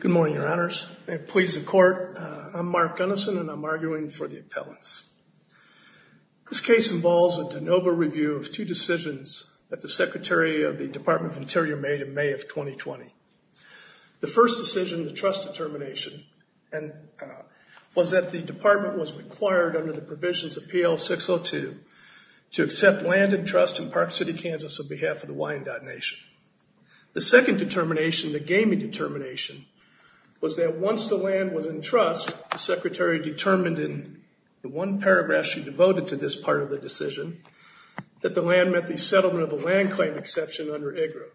Good morning, your honors and please the court. I'm Mark Gunnison and I'm arguing for the appellants. This case involves a de novo review of two decisions that the secretary of the Department of Interior made in May of 2020. The first decision, the trust determination, was that the department was required under the provisions of PL 602 to accept land and trust in Park City, Kansas on behalf of the Wyandotte Nation. The second determination, the gaming determination, was that once the land was in trust, the secretary determined in the one paragraph she devoted to this part of the decision, that the land met the settlement of a land claim exception under IGRA.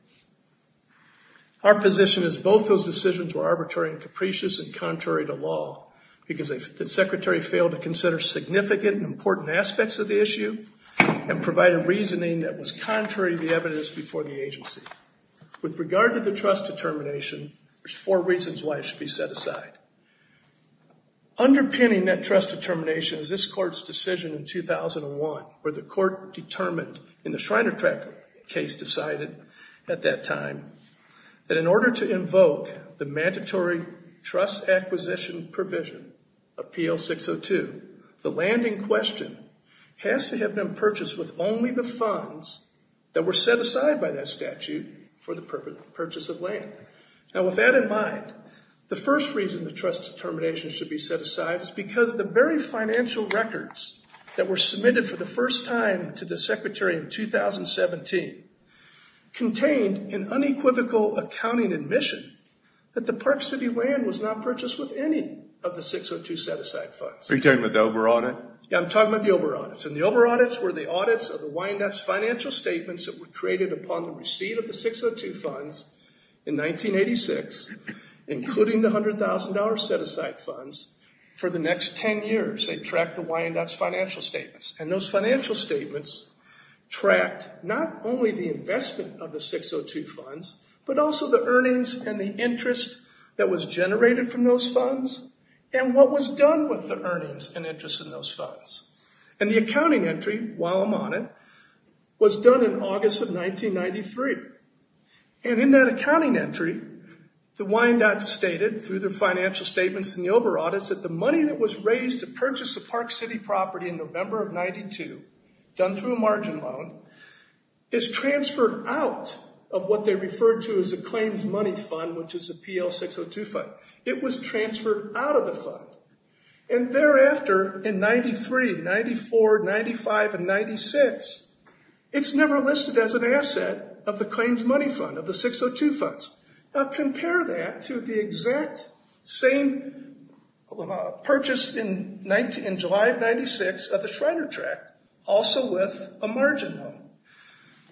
Our position is both those decisions were arbitrary and capricious and contrary to law because the secretary failed to consider significant and important aspects of the issue and provide a reasoning that was contrary to the evidence before the policy. With regard to the trust determination, there's four reasons why it should be set aside. Underpinning that trust determination is this court's decision in 2001 where the court determined in the Shrinertrack case decided at that time that in order to invoke the mandatory trust acquisition provision of PL 602, the land in question has to have been purchased with only the funds that were set aside by that statute for the purchase of land. Now with that in mind, the first reason the trust determination should be set aside is because the very financial records that were submitted for the first time to the secretary in 2017 contained an unequivocal accounting admission that the Park City land was not purchased with any of the 602 set-aside funds. Are you talking about the over audit? Yeah, I'm talking about the over audits and the over audits were the audits of the Wyandotte's financial statements that were created upon the receipt of the 602 funds in 1986, including the $100,000 set-aside funds for the next 10 years. They tracked the Wyandotte's financial statements and those financial statements tracked not only the investment of the 602 funds, but also the earnings and the interest that was generated from those funds and what was done with the earnings and interest in those funds. And the accounting entry, while I'm on it, was done in August of 1993. And in that accounting entry, the Wyandotte stated through their financial statements and the over audits that the money that was raised to purchase the Park City property in November of 92, done through a margin loan, is transferred out of what they referred to as a claims money fund, which is a PL 602 fund. It was transferred out of the fund. And thereafter, in 93, 94, 95, and 96, it's never listed as an asset of the claims money fund, of the 602 funds. Now compare that to the exact same purchase in July of 96 of the Shriner tract, also with a margin loan.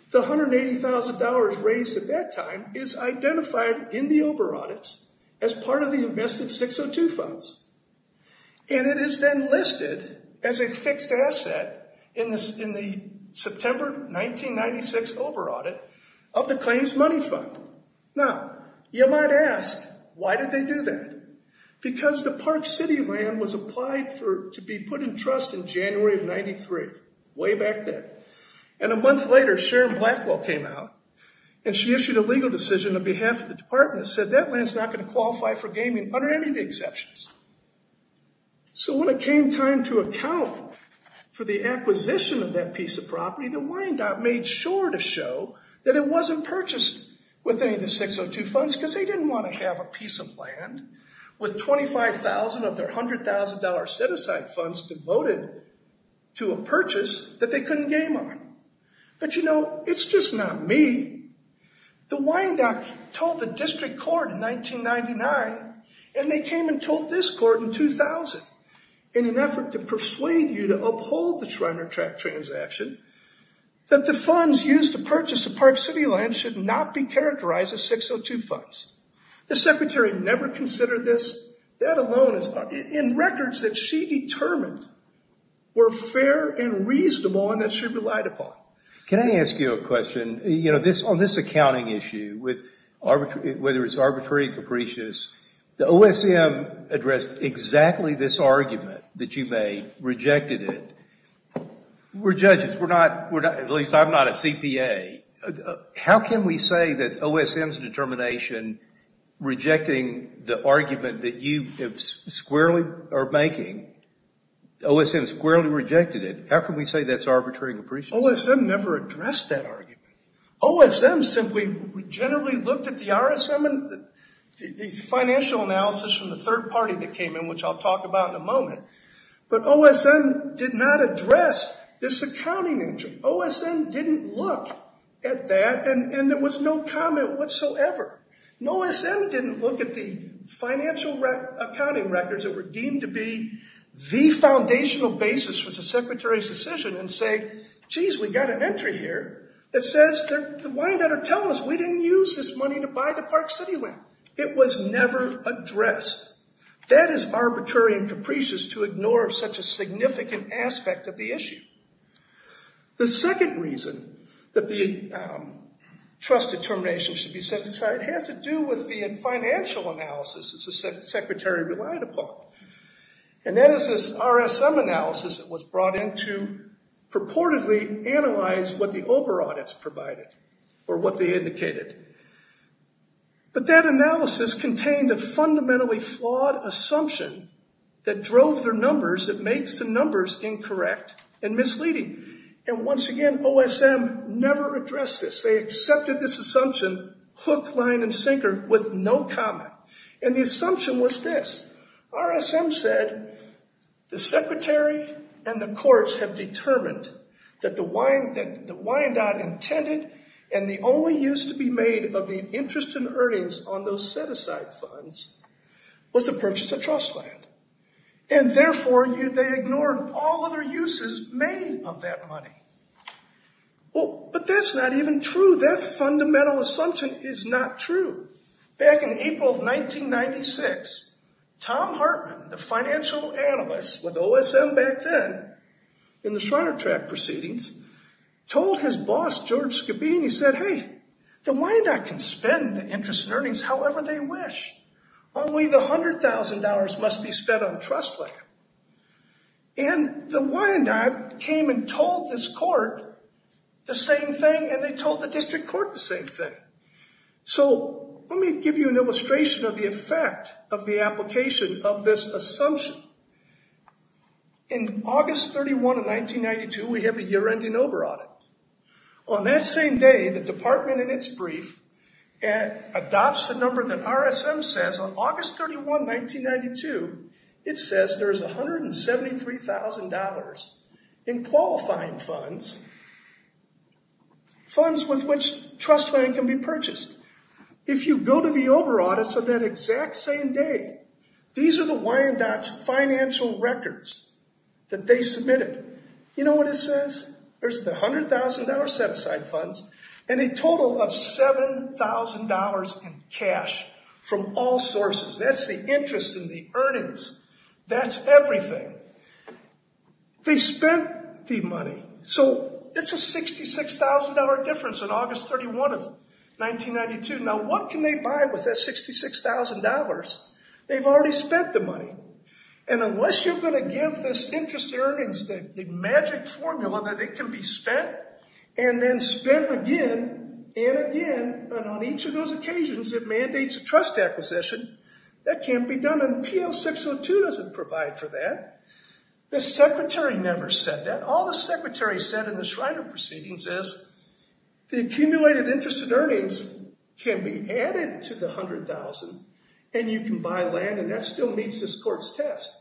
The $180,000 raised at that time is identified in the over audits as part of the invested 602 funds. And it is then listed as a fixed asset in the September 1996 over audit of the claims money fund. Now, you might ask, why did they do that? Because the Park City land was applied to be put in trust in January of 93, way back then, and a month later, Sharon Blackwell came out and she issued a legal decision on behalf of the department that said that land's not going to qualify for gaming under any of the exceptions. So when it came time to account for the acquisition of that piece of property, the Wyandotte made sure to show that it wasn't purchased with any of the 602 funds, because they didn't want to have a piece of land with 25,000 of their $100,000 set-aside funds devoted to a purchase that they couldn't game on. But you know, it's just not me. The Wyandotte told the district court in 1999, and they came and told this court in 2000, in an effort to persuade you to uphold the Schreiner tract transaction, that the funds used to purchase the Park City land should not be characterized as 602 funds. The secretary never considered this, that alone is not, in records that she determined were fair and reasonable and that she relied upon. Can I ask you a question? You know, on this accounting issue, whether it's arbitrary or capricious, the OSM addressed exactly this argument that you made, rejected it. We're judges. We're not, at least I'm not a CPA. How can we say that OSM's determination, rejecting the argument that you squarely are making, OSM squarely rejected it. How can we say that's arbitrary and capricious? OSM never addressed that argument. OSM simply generally looked at the RSM and the financial analysis from the third party that came in, which I'll talk about in a moment, but OSM did not address this accounting issue. OSM didn't look at that. And there was no comment whatsoever. OSM didn't look at the financial accounting records that were deemed to be the foundational basis for the secretary's decision and say, geez, we didn't use this money to buy the park city land. It was never addressed. That is arbitrary and capricious to ignore such a significant aspect of the issue. The second reason that the trust determination should be set aside has to do with the financial analysis that the secretary relied upon, and that is this RSM analysis that was brought in to purportedly analyze what the OBRA audits provided or what they indicated. But that analysis contained a fundamentally flawed assumption that drove their numbers, that makes the numbers incorrect and misleading. And once again, OSM never addressed this. They accepted this assumption hook, line, and sinker with no comment. And the assumption was this. RSM said the secretary and the courts have determined that the wind out intended and the only use to be made of the interest in earnings on those set aside funds was to purchase a trust land. And therefore, they ignored all other uses made of that money. Well, but that's not even true. That fundamental assumption is not true. Back in April of 1996, Tom Hartman, the financial analyst with OSM back then in the Shriner track proceedings, told his boss, George Skabeen, he said, hey, the Wyandotte can spend the interest in earnings however they wish. Only the $100,000 must be spent on trust land. And the Wyandotte came and told this court the same thing. And they told the district court the same thing. So let me give you an illustration of the effect of the application of this assumption. In August 31 of 1992, we have a year-ending OBRA audit. On that same day, the department in its brief adopts the number that RSM says. On August 31, 1992, it says there's $173,000 in qualifying funds, funds with which trust land can be purchased. If you go to the OBRA audits on that exact same day, these are the Wyandotte's financial records that they submitted. You know what it says? There's the $100,000 set-aside funds and a total of $7,000 in cash from all sources. That's the interest in the earnings. That's everything. They spent the money. So it's a $66,000 difference on August 31 of 1992. Now, what can they buy with that $66,000? They've already spent the money. And unless you're going to give this interest in earnings the magic formula that it can be spent and then spent again and again, and on each of those occasions, it mandates a trust acquisition, that can't be done. And PL-602 doesn't provide for that. The secretary never said that. All the secretary said in the Schreiner proceedings is the accumulated interest in earnings can be added to the $100,000, and you can buy land, and that still meets this test.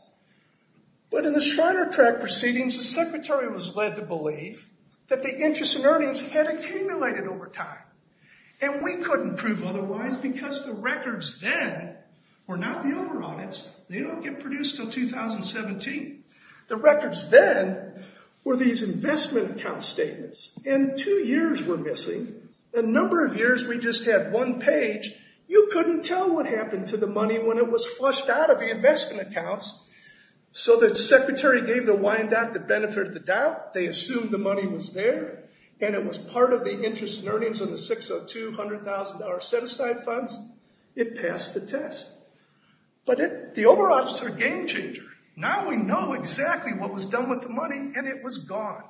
But in the Schreiner track proceedings, the secretary was led to believe that the interest in earnings had accumulated over time. And we couldn't prove otherwise because the records then were not the over-audits. They don't get produced until 2017. The records then were these investment account statements. And two years were missing. The number of years we just had one page, you couldn't tell what happened to the money when it was flushed out of the investment accounts. So the secretary gave the Wyandotte the benefit of the doubt, they assumed the money was there, and it was part of the interest in earnings in the 602 $100,000 set-aside funds. It passed the test. But the over-audits are a game changer. Now we know exactly what was done with the money, and it was gone.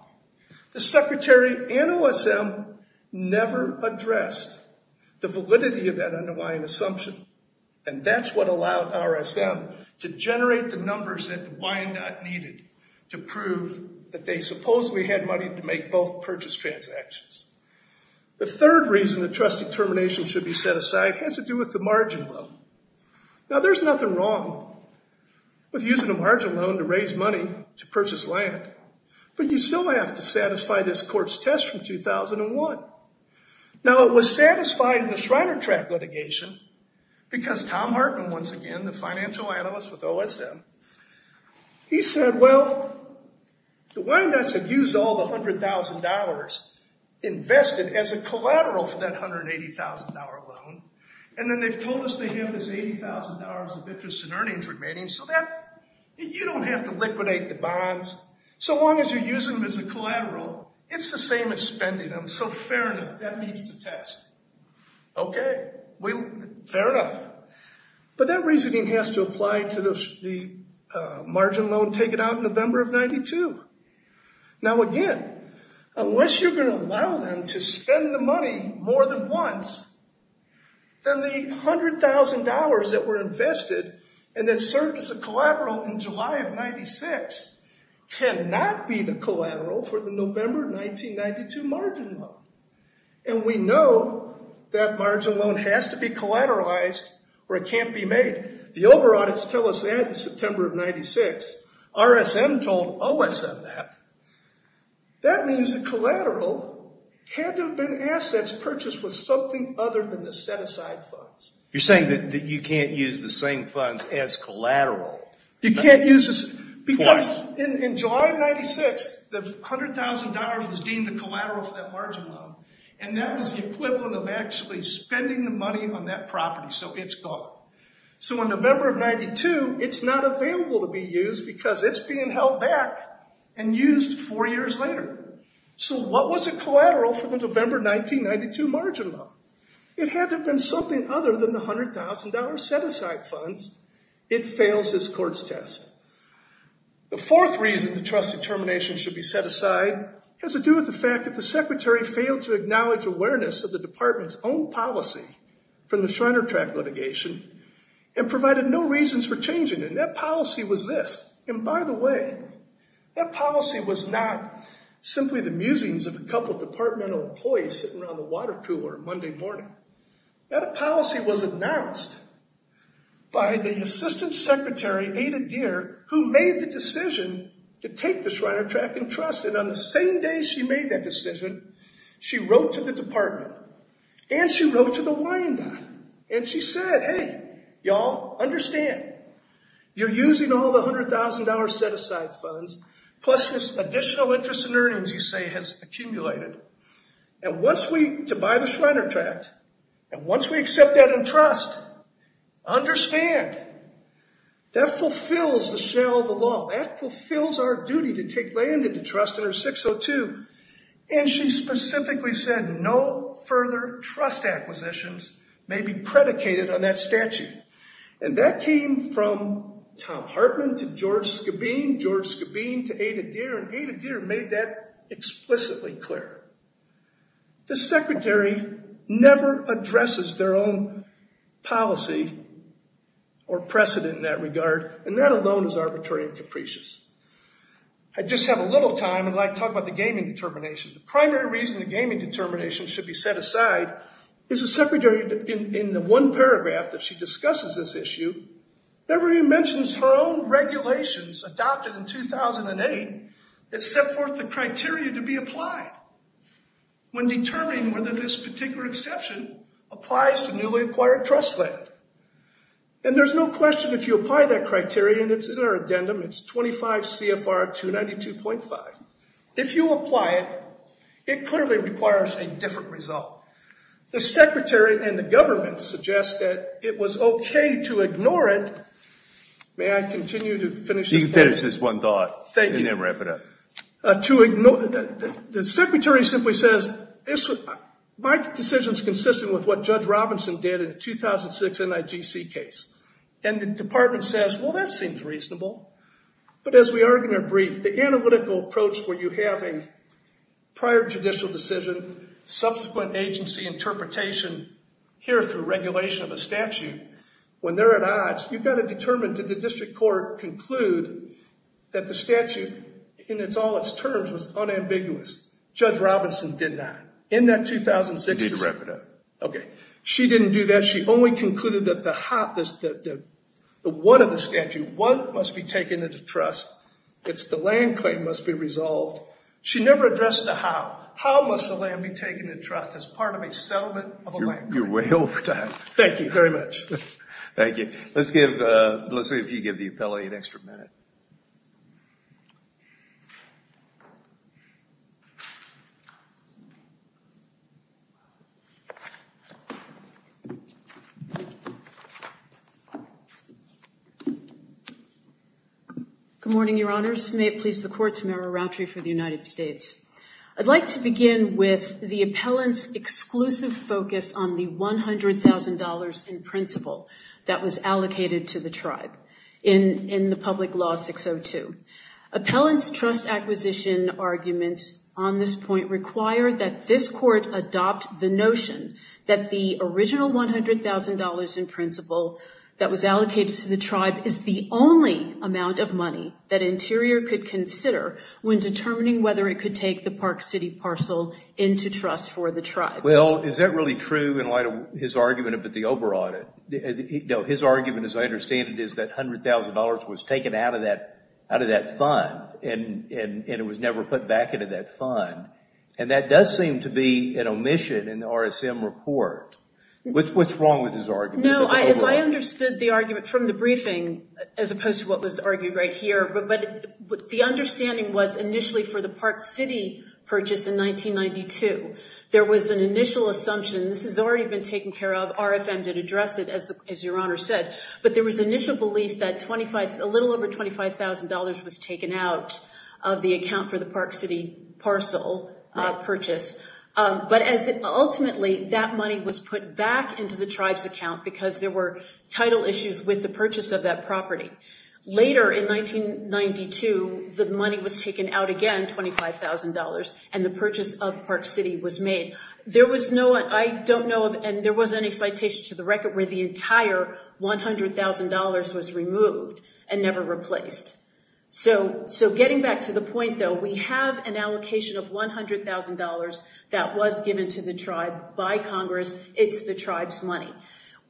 The secretary and OSM never addressed the validity of that underlying assumption. And that's what allowed RSM to generate the numbers that the Wyandotte needed to prove that they supposedly had money to make both purchase transactions. The third reason the trustee termination should be set aside has to do with the margin loan. Now there's nothing wrong with using a margin loan to raise money to purchase land. But you still have to satisfy this court's test from 2001. Now it was satisfied in the Schreiner track litigation because Tom Hartman, once again, the financial analyst with OSM, he said, well, the Wyandottes have used all the $100,000 invested as a collateral for that $180,000 loan. And then they've told us they have this $80,000 of interest in earnings remaining so that you don't have to liquidate the bonds. So long as you're using them as a collateral, it's the same as spending them. So fair enough. That meets the test. Okay. Fair enough. But that reasoning has to apply to the margin loan taken out in November of 92. Now again, unless you're going to allow them to spend the money more than once, then the $100,000 that were invested and that served as a collateral in July of 96 cannot be the margin loan. And we know that margin loan has to be collateralized or it can't be made. The OBRA audits tell us that in September of 96. RSM told OSM that. That means the collateral had to have been assets purchased with something other than the set-aside funds. You're saying that you can't use the same funds as collateral. You can't use this because in July of 96, the $100,000 was deemed a collateral for that margin loan. And that was the equivalent of actually spending the money on that property. So it's gone. So in November of 92, it's not available to be used because it's being held back and used four years later. So what was a collateral for the November 1992 margin loan? It had to have been something other than the $100,000 set-aside funds. It fails this court's test. The fourth reason the trust determination should be set aside has to do with the fact that the trust failed to acknowledge awareness of the department's own policy from the Shriner-Track litigation and provided no reasons for changing. And that policy was this. And by the way, that policy was not simply the musings of a couple of departmental employees sitting around the water cooler Monday morning. That policy was announced by the assistant secretary, Ada Deer, who made the decision to take the Shriner-Track and trust it. And on the same day she made that decision, she wrote to the department and she wrote to the Wyandotte and she said, hey, y'all, understand, you're using all the $100,000 set-aside funds, plus this additional interest and earnings, you say, has accumulated. And once we, to buy the Shriner-Track, and once we accept that and trust, understand, that fulfills the shell of the law. That fulfills our duty to take land into trust under 602. And she specifically said no further trust acquisitions may be predicated on that statute. And that came from Tom Hartman to George Skabeen, George Skabeen to Ada Deer, and Ada Deer made that explicitly clear. The secretary never addresses their own policy or precedent in that regard. And that alone is arbitrary and capricious. I just have a little time and I'd like to talk about the gaming determination. The primary reason the gaming determination should be set aside is the secretary, in the one paragraph that she discusses this issue, never even mentions her own regulations adopted in 2008 that set forth the criteria to be applied when determining whether this particular exception applies to newly acquired trust land. And there's no question if you apply that criteria, and it's in our addendum, it's 25 CFR 292.5. If you apply it, it clearly requires a different result. The secretary and the government suggest that it was OK to ignore it. May I continue to finish this point? You can finish this one thought. Thank you. And then wrap it up. To ignore, the secretary simply says, my decision is consistent with what Judge Robinson did in the 2006 NIGC case. And the department says, well, that seems reasonable. But as we argue in our brief, the analytical approach where you have a prior judicial decision, subsequent agency interpretation, here through regulation of a statute, when they're at odds, you've got to determine, did the district court conclude that the statute in all its terms was unambiguous? Judge Robinson did not. In that 2006... You need to wrap it up. OK. She didn't do that. She only concluded that the one of the statute, one must be taken into trust. It's the land claim must be resolved. She never addressed the how. How must the land be taken into trust as part of a settlement of a land claim? You're way over time. Thank you very much. Thank you. Let's see if you give the appellee an extra minute. Good morning, Your Honors. May it please the court to memorandum for the United States. I'd like to begin with the appellant's exclusive focus on the $100,000 in principle that was allocated to the tribe in the public law 602. Appellant's trust acquisition arguments on this point require that this court adopt the notion that the original $100,000 in principle that was allocated to the tribe is the only amount of money that Interior could consider when determining whether it could take the Park City parcel into trust for the tribe. Well, is that really true in light of his argument about the OBRA audit? No, his argument, as I understand it, is that $100,000 was taken out of that out of that fund and it was never put back into that fund. And that does seem to be an omission in the RSM report. What's wrong with his argument? No, as I understood the argument from the briefing, as opposed to what was argued right here, but the understanding was initially for the Park City purchase in 1992, there was an initial assumption, this has already been taken care of, RFM did address it, as Your Honor said, but there was initial belief that a little over $25,000 was taken out of the account for the Park City parcel purchase. But ultimately, that money was put back into the tribe's account because there were title issues with the purchase of that property. Later in 1992, the money was taken out again, $25,000, and the purchase of Park City was made. There was no, I don't know, and there wasn't any citation to the record where the entire $100,000 was removed and never replaced. So getting back to the point, though, we have an allocation of $100,000 that was given to the tribe by Congress. It's the tribe's money.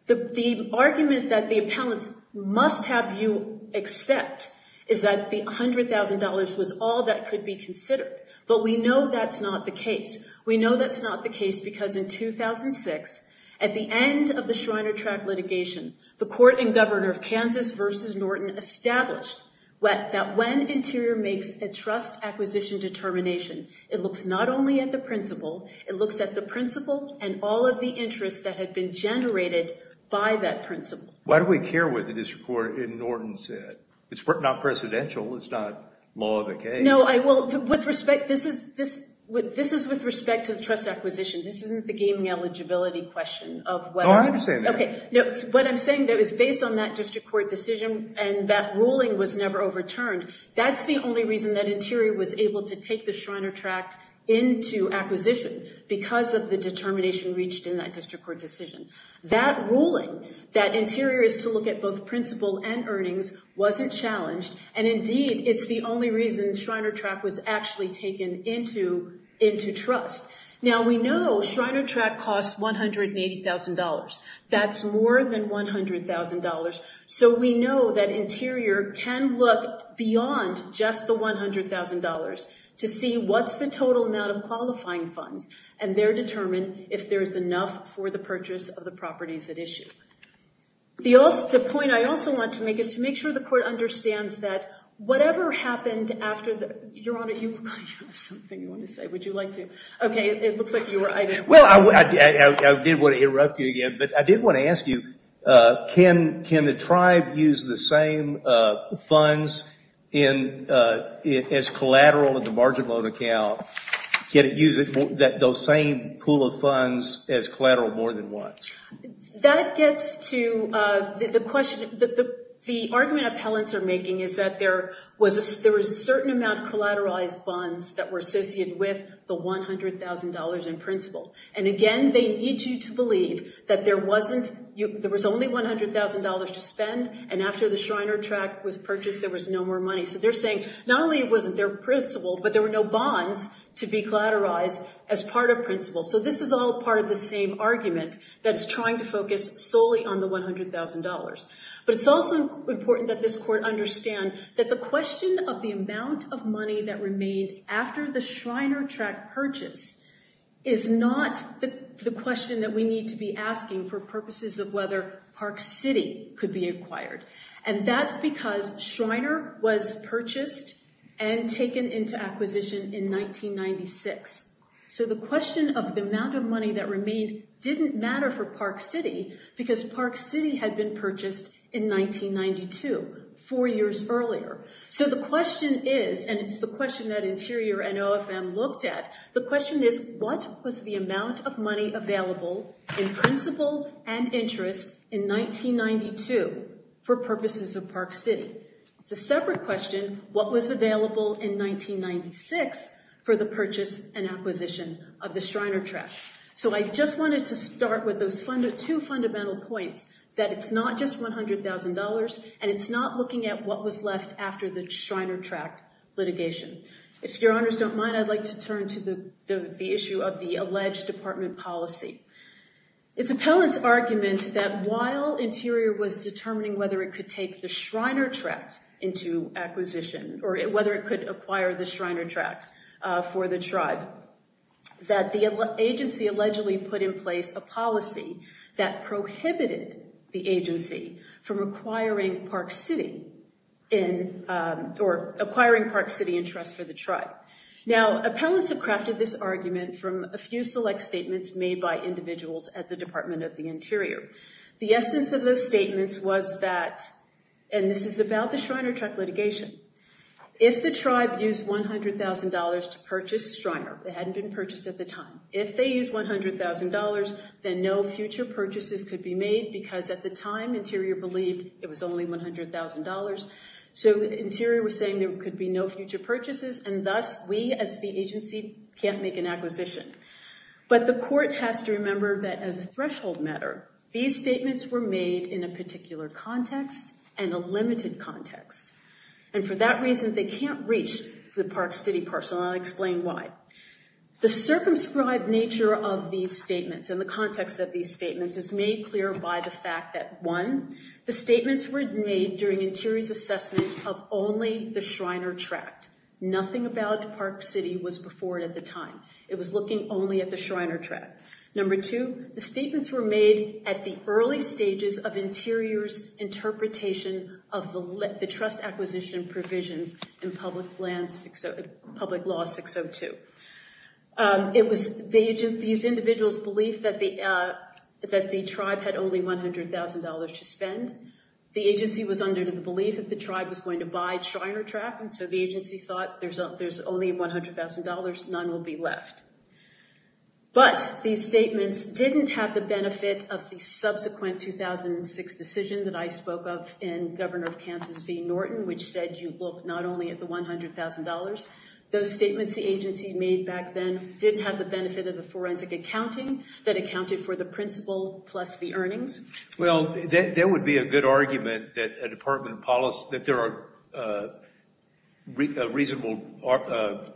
The argument that the appellants must have you accept is that the $100,000 was all that could be considered. But we know that's not the case. We know that's not the case because in 2006, at the end of the Schreiner Track litigation, the court and governor of Kansas v. Norton established that when Interior makes a trust acquisition determination, it looks not only at the principle, it looks at the principle and all of the interest that had been generated by that principle. Why do we care what the district court in Norton said? It's not presidential. It's not law of the case. No, I will. With respect, this is with respect to the trust acquisition. This isn't the gaming eligibility question of whether. Oh, I understand that. OK, no, what I'm saying that was based on that district court decision and that ruling was never overturned. That's the only reason that Interior was able to take the Schreiner Track into acquisition because of the determination reached in that district court decision. That ruling, that Interior is to look at both principle and earnings, wasn't challenged. And indeed, it's the only reason Schreiner Track was actually taken into into trust. Now, we know Schreiner Track costs $180,000. That's more than $100,000. So we know that Interior can look beyond just the $100,000 to see what's the total amount of qualifying funds. And they're determined if there is enough for the purchase of the properties at issue. The point I also want to make is to make sure the court understands that whatever happened after that, Your Honor, you have something you want to say. Would you like to? OK, it looks like you were. Well, I did want to interrupt you again, but I did want to ask you, can the tribe use the same funds as collateral in the margin loan account? Can it use those same pool of funds as collateral more than once? That gets to the question that the argument appellants are making is that there was a certain amount of collateralized bonds that were associated with the $100,000 in principle. And again, they need you to believe that there wasn't there was only $100,000 to spend. And after the Schreiner Track was purchased, there was no more money. So they're saying not only it wasn't their principle, but there were no bonds to be collateralized as part of principle. So this is all part of the same argument that is trying to focus solely on the $100,000. But it's also important that this court understand that the question of the purchase is not the question that we need to be asking for purposes of whether Park City could be acquired. And that's because Schreiner was purchased and taken into acquisition in 1996. So the question of the amount of money that remained didn't matter for Park City because Park City had been purchased in 1992, four years earlier. So the question is, and it's the question that Interior and OFM looked at, the question is, what was the amount of money available in principle and interest in 1992 for purposes of Park City? It's a separate question. What was available in 1996 for the purchase and acquisition of the Schreiner Track? So I just wanted to start with those two fundamental points that it's not just $100,000 and it's not looking at what was left after the Schreiner Track litigation. If your honors don't mind, I'd like to turn to the issue of the alleged department policy. It's appellant's argument that while Interior was determining whether it could take the Schreiner Track into acquisition or whether it could acquire the Schreiner Track for the tribe, that the agency allegedly put in place a policy that prohibited the agency from acquiring Park City or acquiring Park City interest for the tribe. Now, appellants have crafted this argument from a few select statements made by individuals at the Department of the Interior. The essence of those statements was that, and this is about the Schreiner Track litigation, if the tribe used $100,000 to purchase Schreiner, it hadn't been purchased at the time. If they used $100,000, then no future purchases could be made because at the time Interior believed it was only $100,000. So Interior was saying there could be no future purchases and thus we, as the agency, can't make an acquisition. But the court has to remember that as a threshold matter, these statements were made in a particular context and a limited context. And for that reason, they can't reach the Park City parcel and I'll explain why. The circumscribed nature of these statements and the context of these statements is made clear by the fact that, one, the statements were made during Interior's assessment of only the Schreiner Track. Nothing about Park City was before it at the time. It was looking only at the Schreiner Track. Number two, the statements were made at the early stages of Interior's interpretation of the trust acquisition provisions in Public Law 602. It was these individuals' belief that the tribe had only $100,000 to spend. The agency was under the belief that the tribe was going to buy Schreiner Track and so the agency thought there's only $100,000, none will be left. But these statements didn't have the benefit of the subsequent 2006 decision that I spoke of in Governor of Kansas v. Norton, which said you look not only at the $100,000. Those statements the agency made back then didn't have the benefit of the forensic accounting that accounted for the principal plus the earnings. Well, there would be a good argument that a department of policy, that there are reasonable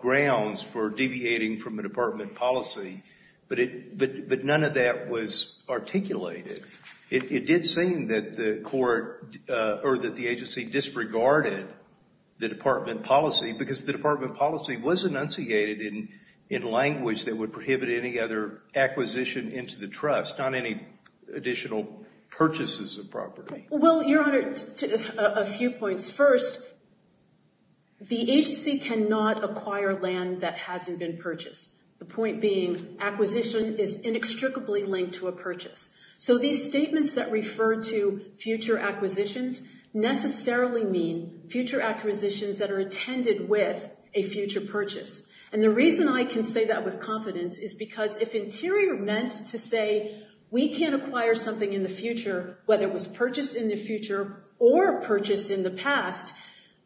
grounds for deviating from a department policy, but none of that was articulated. It did seem that the court or that the agency disregarded the department policy because the department policy was enunciated in language that would prohibit any other acquisition into the trust, not any additional purchases of property. Well, Your Honor, a few points. First, the agency cannot acquire land that hasn't been purchased. The point being acquisition is inextricably linked to a purchase. So these statements that refer to future acquisitions necessarily mean future acquisitions that are attended with a future purchase. And the reason I can say that with confidence is because if Interior meant to say we can't acquire something in the future, whether it was purchased in the future or purchased in the past,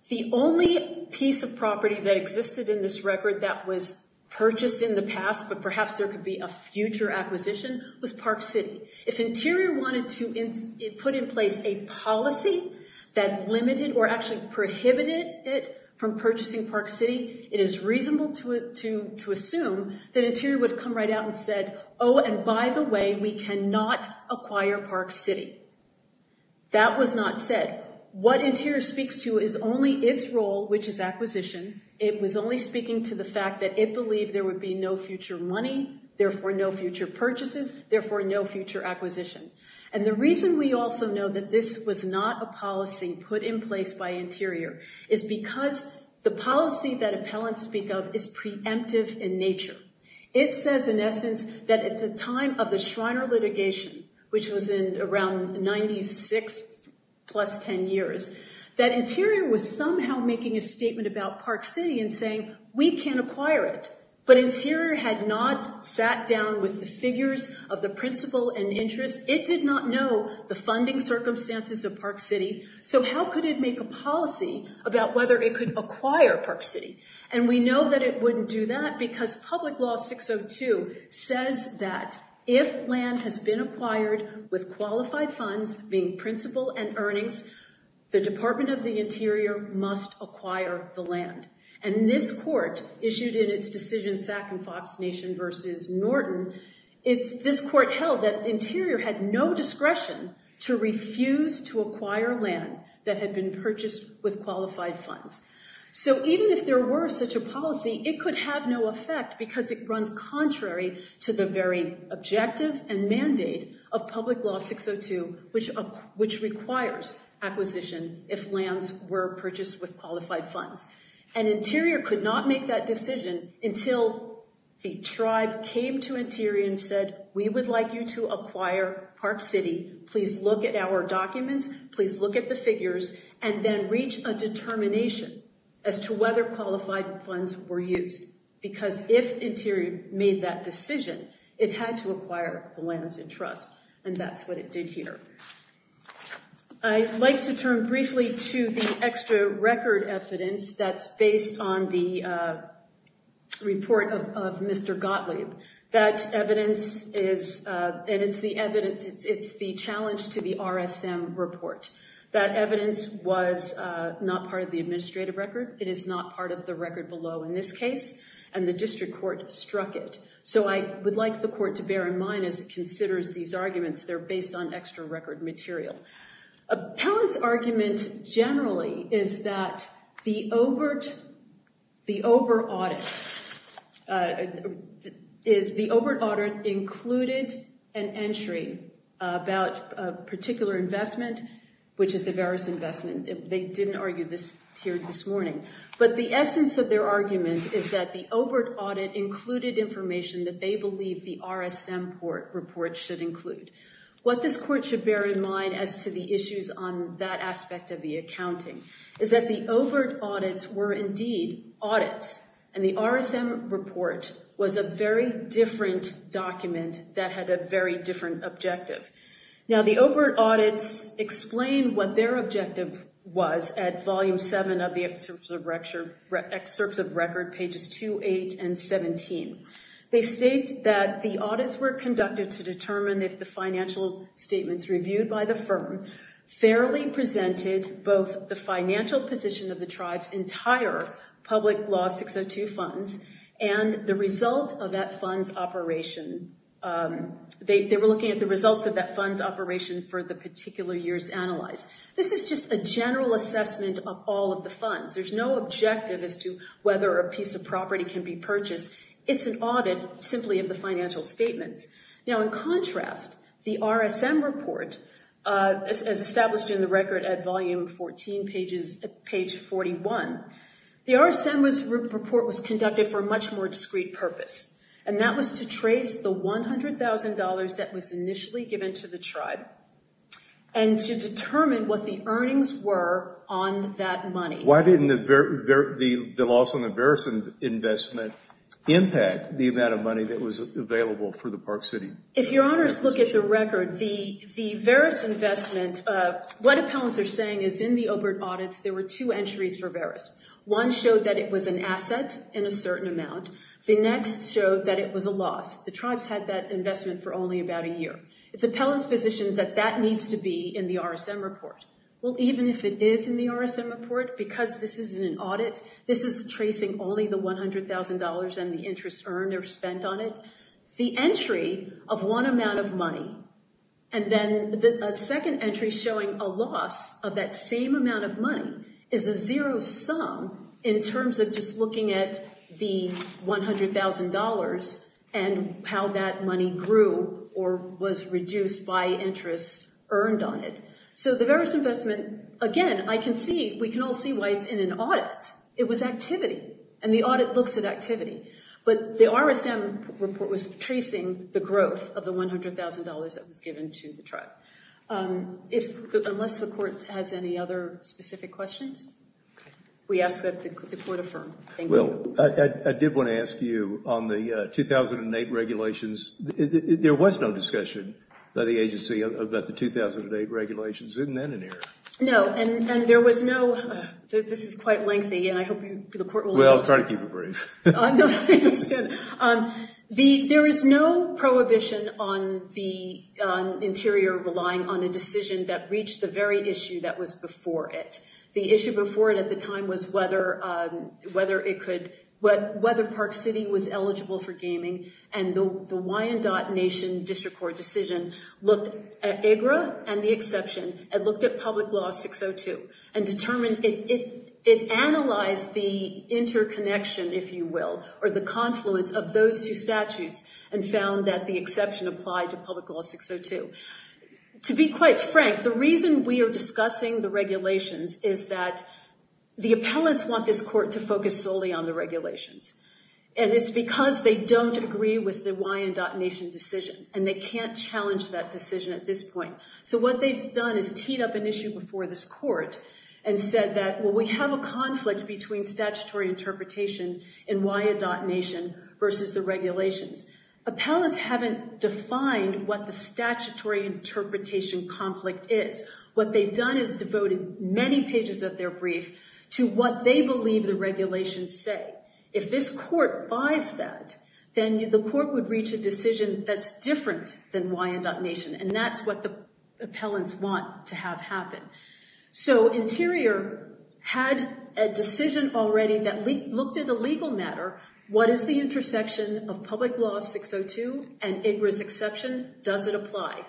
the only piece of property that existed in this record that was purchased in the past, but perhaps there could be a future acquisition, was Park City. If Interior wanted to put in place a policy that limited or actually prohibited it from purchasing Park City, it is reasonable to assume that Interior would come right out and said, oh, and by the way, we cannot acquire Park City. That was not said. What Interior speaks to is only its role, which is acquisition. It was only speaking to the fact that it believed there would be no future money, therefore no future purchases, therefore no future acquisition. And the reason we also know that this was not a policy put in place by Interior is because the policy that appellants speak of is preemptive in nature. It says in essence that at the time of the Schreiner litigation, which was in around 96 plus 10 years, that Interior was somehow making a statement about Park City and saying, we can't acquire it. But Interior had not sat down with the figures of the principal and interest. It did not know the funding circumstances of Park City, so how could it make a policy about whether it could acquire Park City? And we know that it wouldn't do that because Public Law 602 says that if land has been acquired with qualified funds, being principal and earnings, the Department of the Interior must acquire the land. And this court issued in its decision Sack and Fox Nation versus Norton, it's this court held that Interior had no discretion to refuse to acquire land that had been purchased with qualified funds. So even if there were such a policy, it could have no effect because it runs contrary to the very objective and mandate of Public Law 602, which requires acquisition if lands were purchased with qualified funds. And Interior could not make that decision until the tribe came to Interior and said, we would like you to acquire Park City, please look at our documents, please look at the figures, and then reach a determination as to whether qualified funds were used, because if Interior made that decision, it had to acquire the lands in trust, and that's what it did here. I'd like to turn briefly to the extra record evidence that's based on the report of Mr. Gottlieb. That evidence is, and it's the evidence, it's the challenge to the RSM report. That evidence was not part of the administrative record. It is not part of the record below in this case, and the district court struck it. So I would like the court to bear in mind as it considers these arguments, they're based on extra record material. Appellant's argument generally is that the OBERT audit included an entry about a particular investment, which is the Verus investment. They didn't argue this here this morning, but the essence of their argument is that the OBERT audit included information that they believe the RSM report should include. What this court should bear in mind as to the issues on that aspect of the accounting is that the OBERT audits were indeed audits, and the RSM report was a very different document that had a very different objective. Now, the OBERT audits explain what their objective was at volume seven of the excerpts of record, pages two, eight, and 17. They state that the audits were conducted to determine if the financial statements reviewed by the firm fairly presented both the financial position of the tribe's entire public law 602 funds and the result of that fund's operation. They were looking at the results of that fund's operation for the particular years analyzed. This is just a general assessment of all of the funds. There's no objective as to whether a piece of property can be purchased. It's an audit simply of the financial statements. Now, in contrast, the RSM report, as established in the record at volume 14, page 41, the RSM report was conducted for a much more discreet purpose, and that was to trace the $100,000 that was initially given to the tribe and to determine what the earnings were on that money. Why didn't the loss on the Verris investment impact the amount of money that was available for the Park City? If your honors look at the record, the Verris investment, what appellants are saying is in the OBERT audits, there were two entries for Verris. One showed that it was an asset in a certain amount. The next showed that it was a loss. The tribes had that investment for only about a year. It's appellant's position that that needs to be in the RSM report. Well, even if it is in the RSM report, because this isn't an audit, this is tracing only the $100,000 and the interest earned or spent on it. The entry of one amount of money and then a second entry showing a loss of that same amount of money is a zero sum in terms of just looking at the $100,000 and how that money grew or was reduced by interest earned on it. So the Verris investment, again, I can see, we can all see why it's in an audit. It was activity and the audit looks at activity. But the RSM report was tracing the growth of the $100,000 that was given to the tribe, unless the court has any other specific questions. We ask that the court affirm. Will, I did want to ask you on the 2008 regulations, there was no discussion by the court about the 2008 regulations. Isn't that an error? No, and there was no, this is quite lengthy and I hope the court will allow it. Well, I'm trying to keep it brief. There is no prohibition on the interior relying on a decision that reached the very issue that was before it. The issue before it at the time was whether Park City was eligible for gaming. And the Wyandotte Nation District Court decision looked at EGRA and the exception and looked at Public Law 602 and determined it analyzed the interconnection, if you will, or the confluence of those two statutes and found that the exception applied to Public Law 602. To be quite frank, the reason we are discussing the regulations is that the appellants want this court to focus solely on the regulations. And it's because they don't agree with the Wyandotte Nation decision and they can't challenge that decision at this point. So what they've done is teed up an issue before this court and said that, well, we have a conflict between statutory interpretation and Wyandotte Nation versus the regulations. Appellants haven't defined what the statutory interpretation conflict is. What they've done is devoted many pages of their brief to what they believe the court buys that, then the court would reach a decision that's different than Wyandotte Nation. And that's what the appellants want to have happen. So Interior had a decision already that looked at a legal matter. What is the intersection of Public Law 602 and EGRA's exception? Does it apply?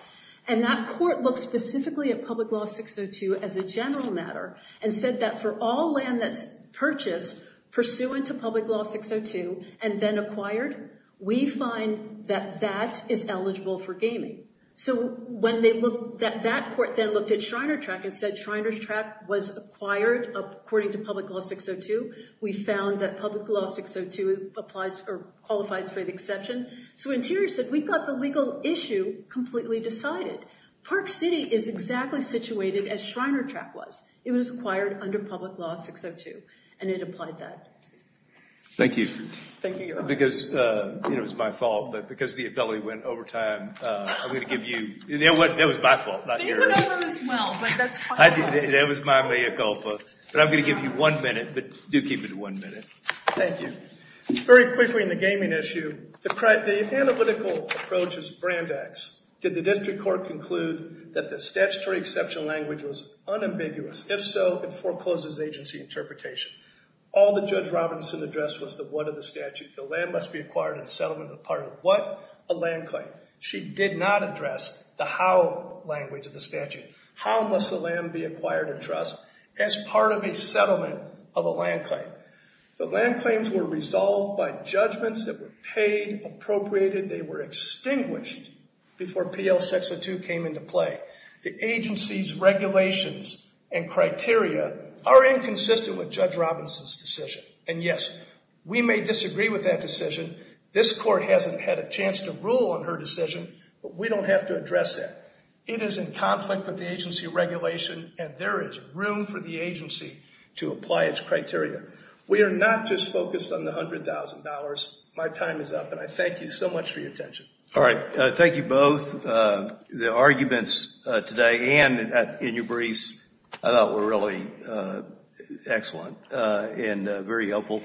And that court looks specifically at Public Law 602 as a general matter and said that for all land that's purchased pursuant to Public Law 602 and then acquired, we find that that is eligible for gaming. So that court then looked at Shriner Track and said Shriner Track was acquired according to Public Law 602. We found that Public Law 602 qualifies for the exception. So Interior said, we've got the legal issue completely decided. Park City is exactly situated as Shriner Track was. It was acquired under Public Law 602 and it applied that. Thank you. Thank you, Your Honor. Because, you know, it was my fault, but because the ability went over time, I'm going to give you, you know what, that was my fault, not yours. But you went over this well, but that's fine. That was my mea culpa, but I'm going to give you one minute, but do keep it one minute. Thank you. Very quickly in the gaming issue, the analytical approach is brand X. Did the district court conclude that the statutory exception language was unambiguous? If so, it forecloses agency interpretation. All that Judge Robinson addressed was the what of the statute. The land must be acquired in settlement of the part of what? A land claim. She did not address the how language of the statute. How must the land be acquired in trust as part of a settlement of a land claim? The land claims were resolved by judgments that were paid, appropriated. They were extinguished before PL 602 came into play. The agency's regulations and criteria are inconsistent with Judge Robinson's decision. And yes, we may disagree with that decision. This court hasn't had a chance to rule on her decision, but we don't have to address that. It is in conflict with the agency regulation and there is room for the agency to apply its criteria. We are not just focused on the $100,000. My time is up and I thank you so much for your attention. All right. Thank you both. The arguments today and in your briefs I thought were really excellent and very helpful.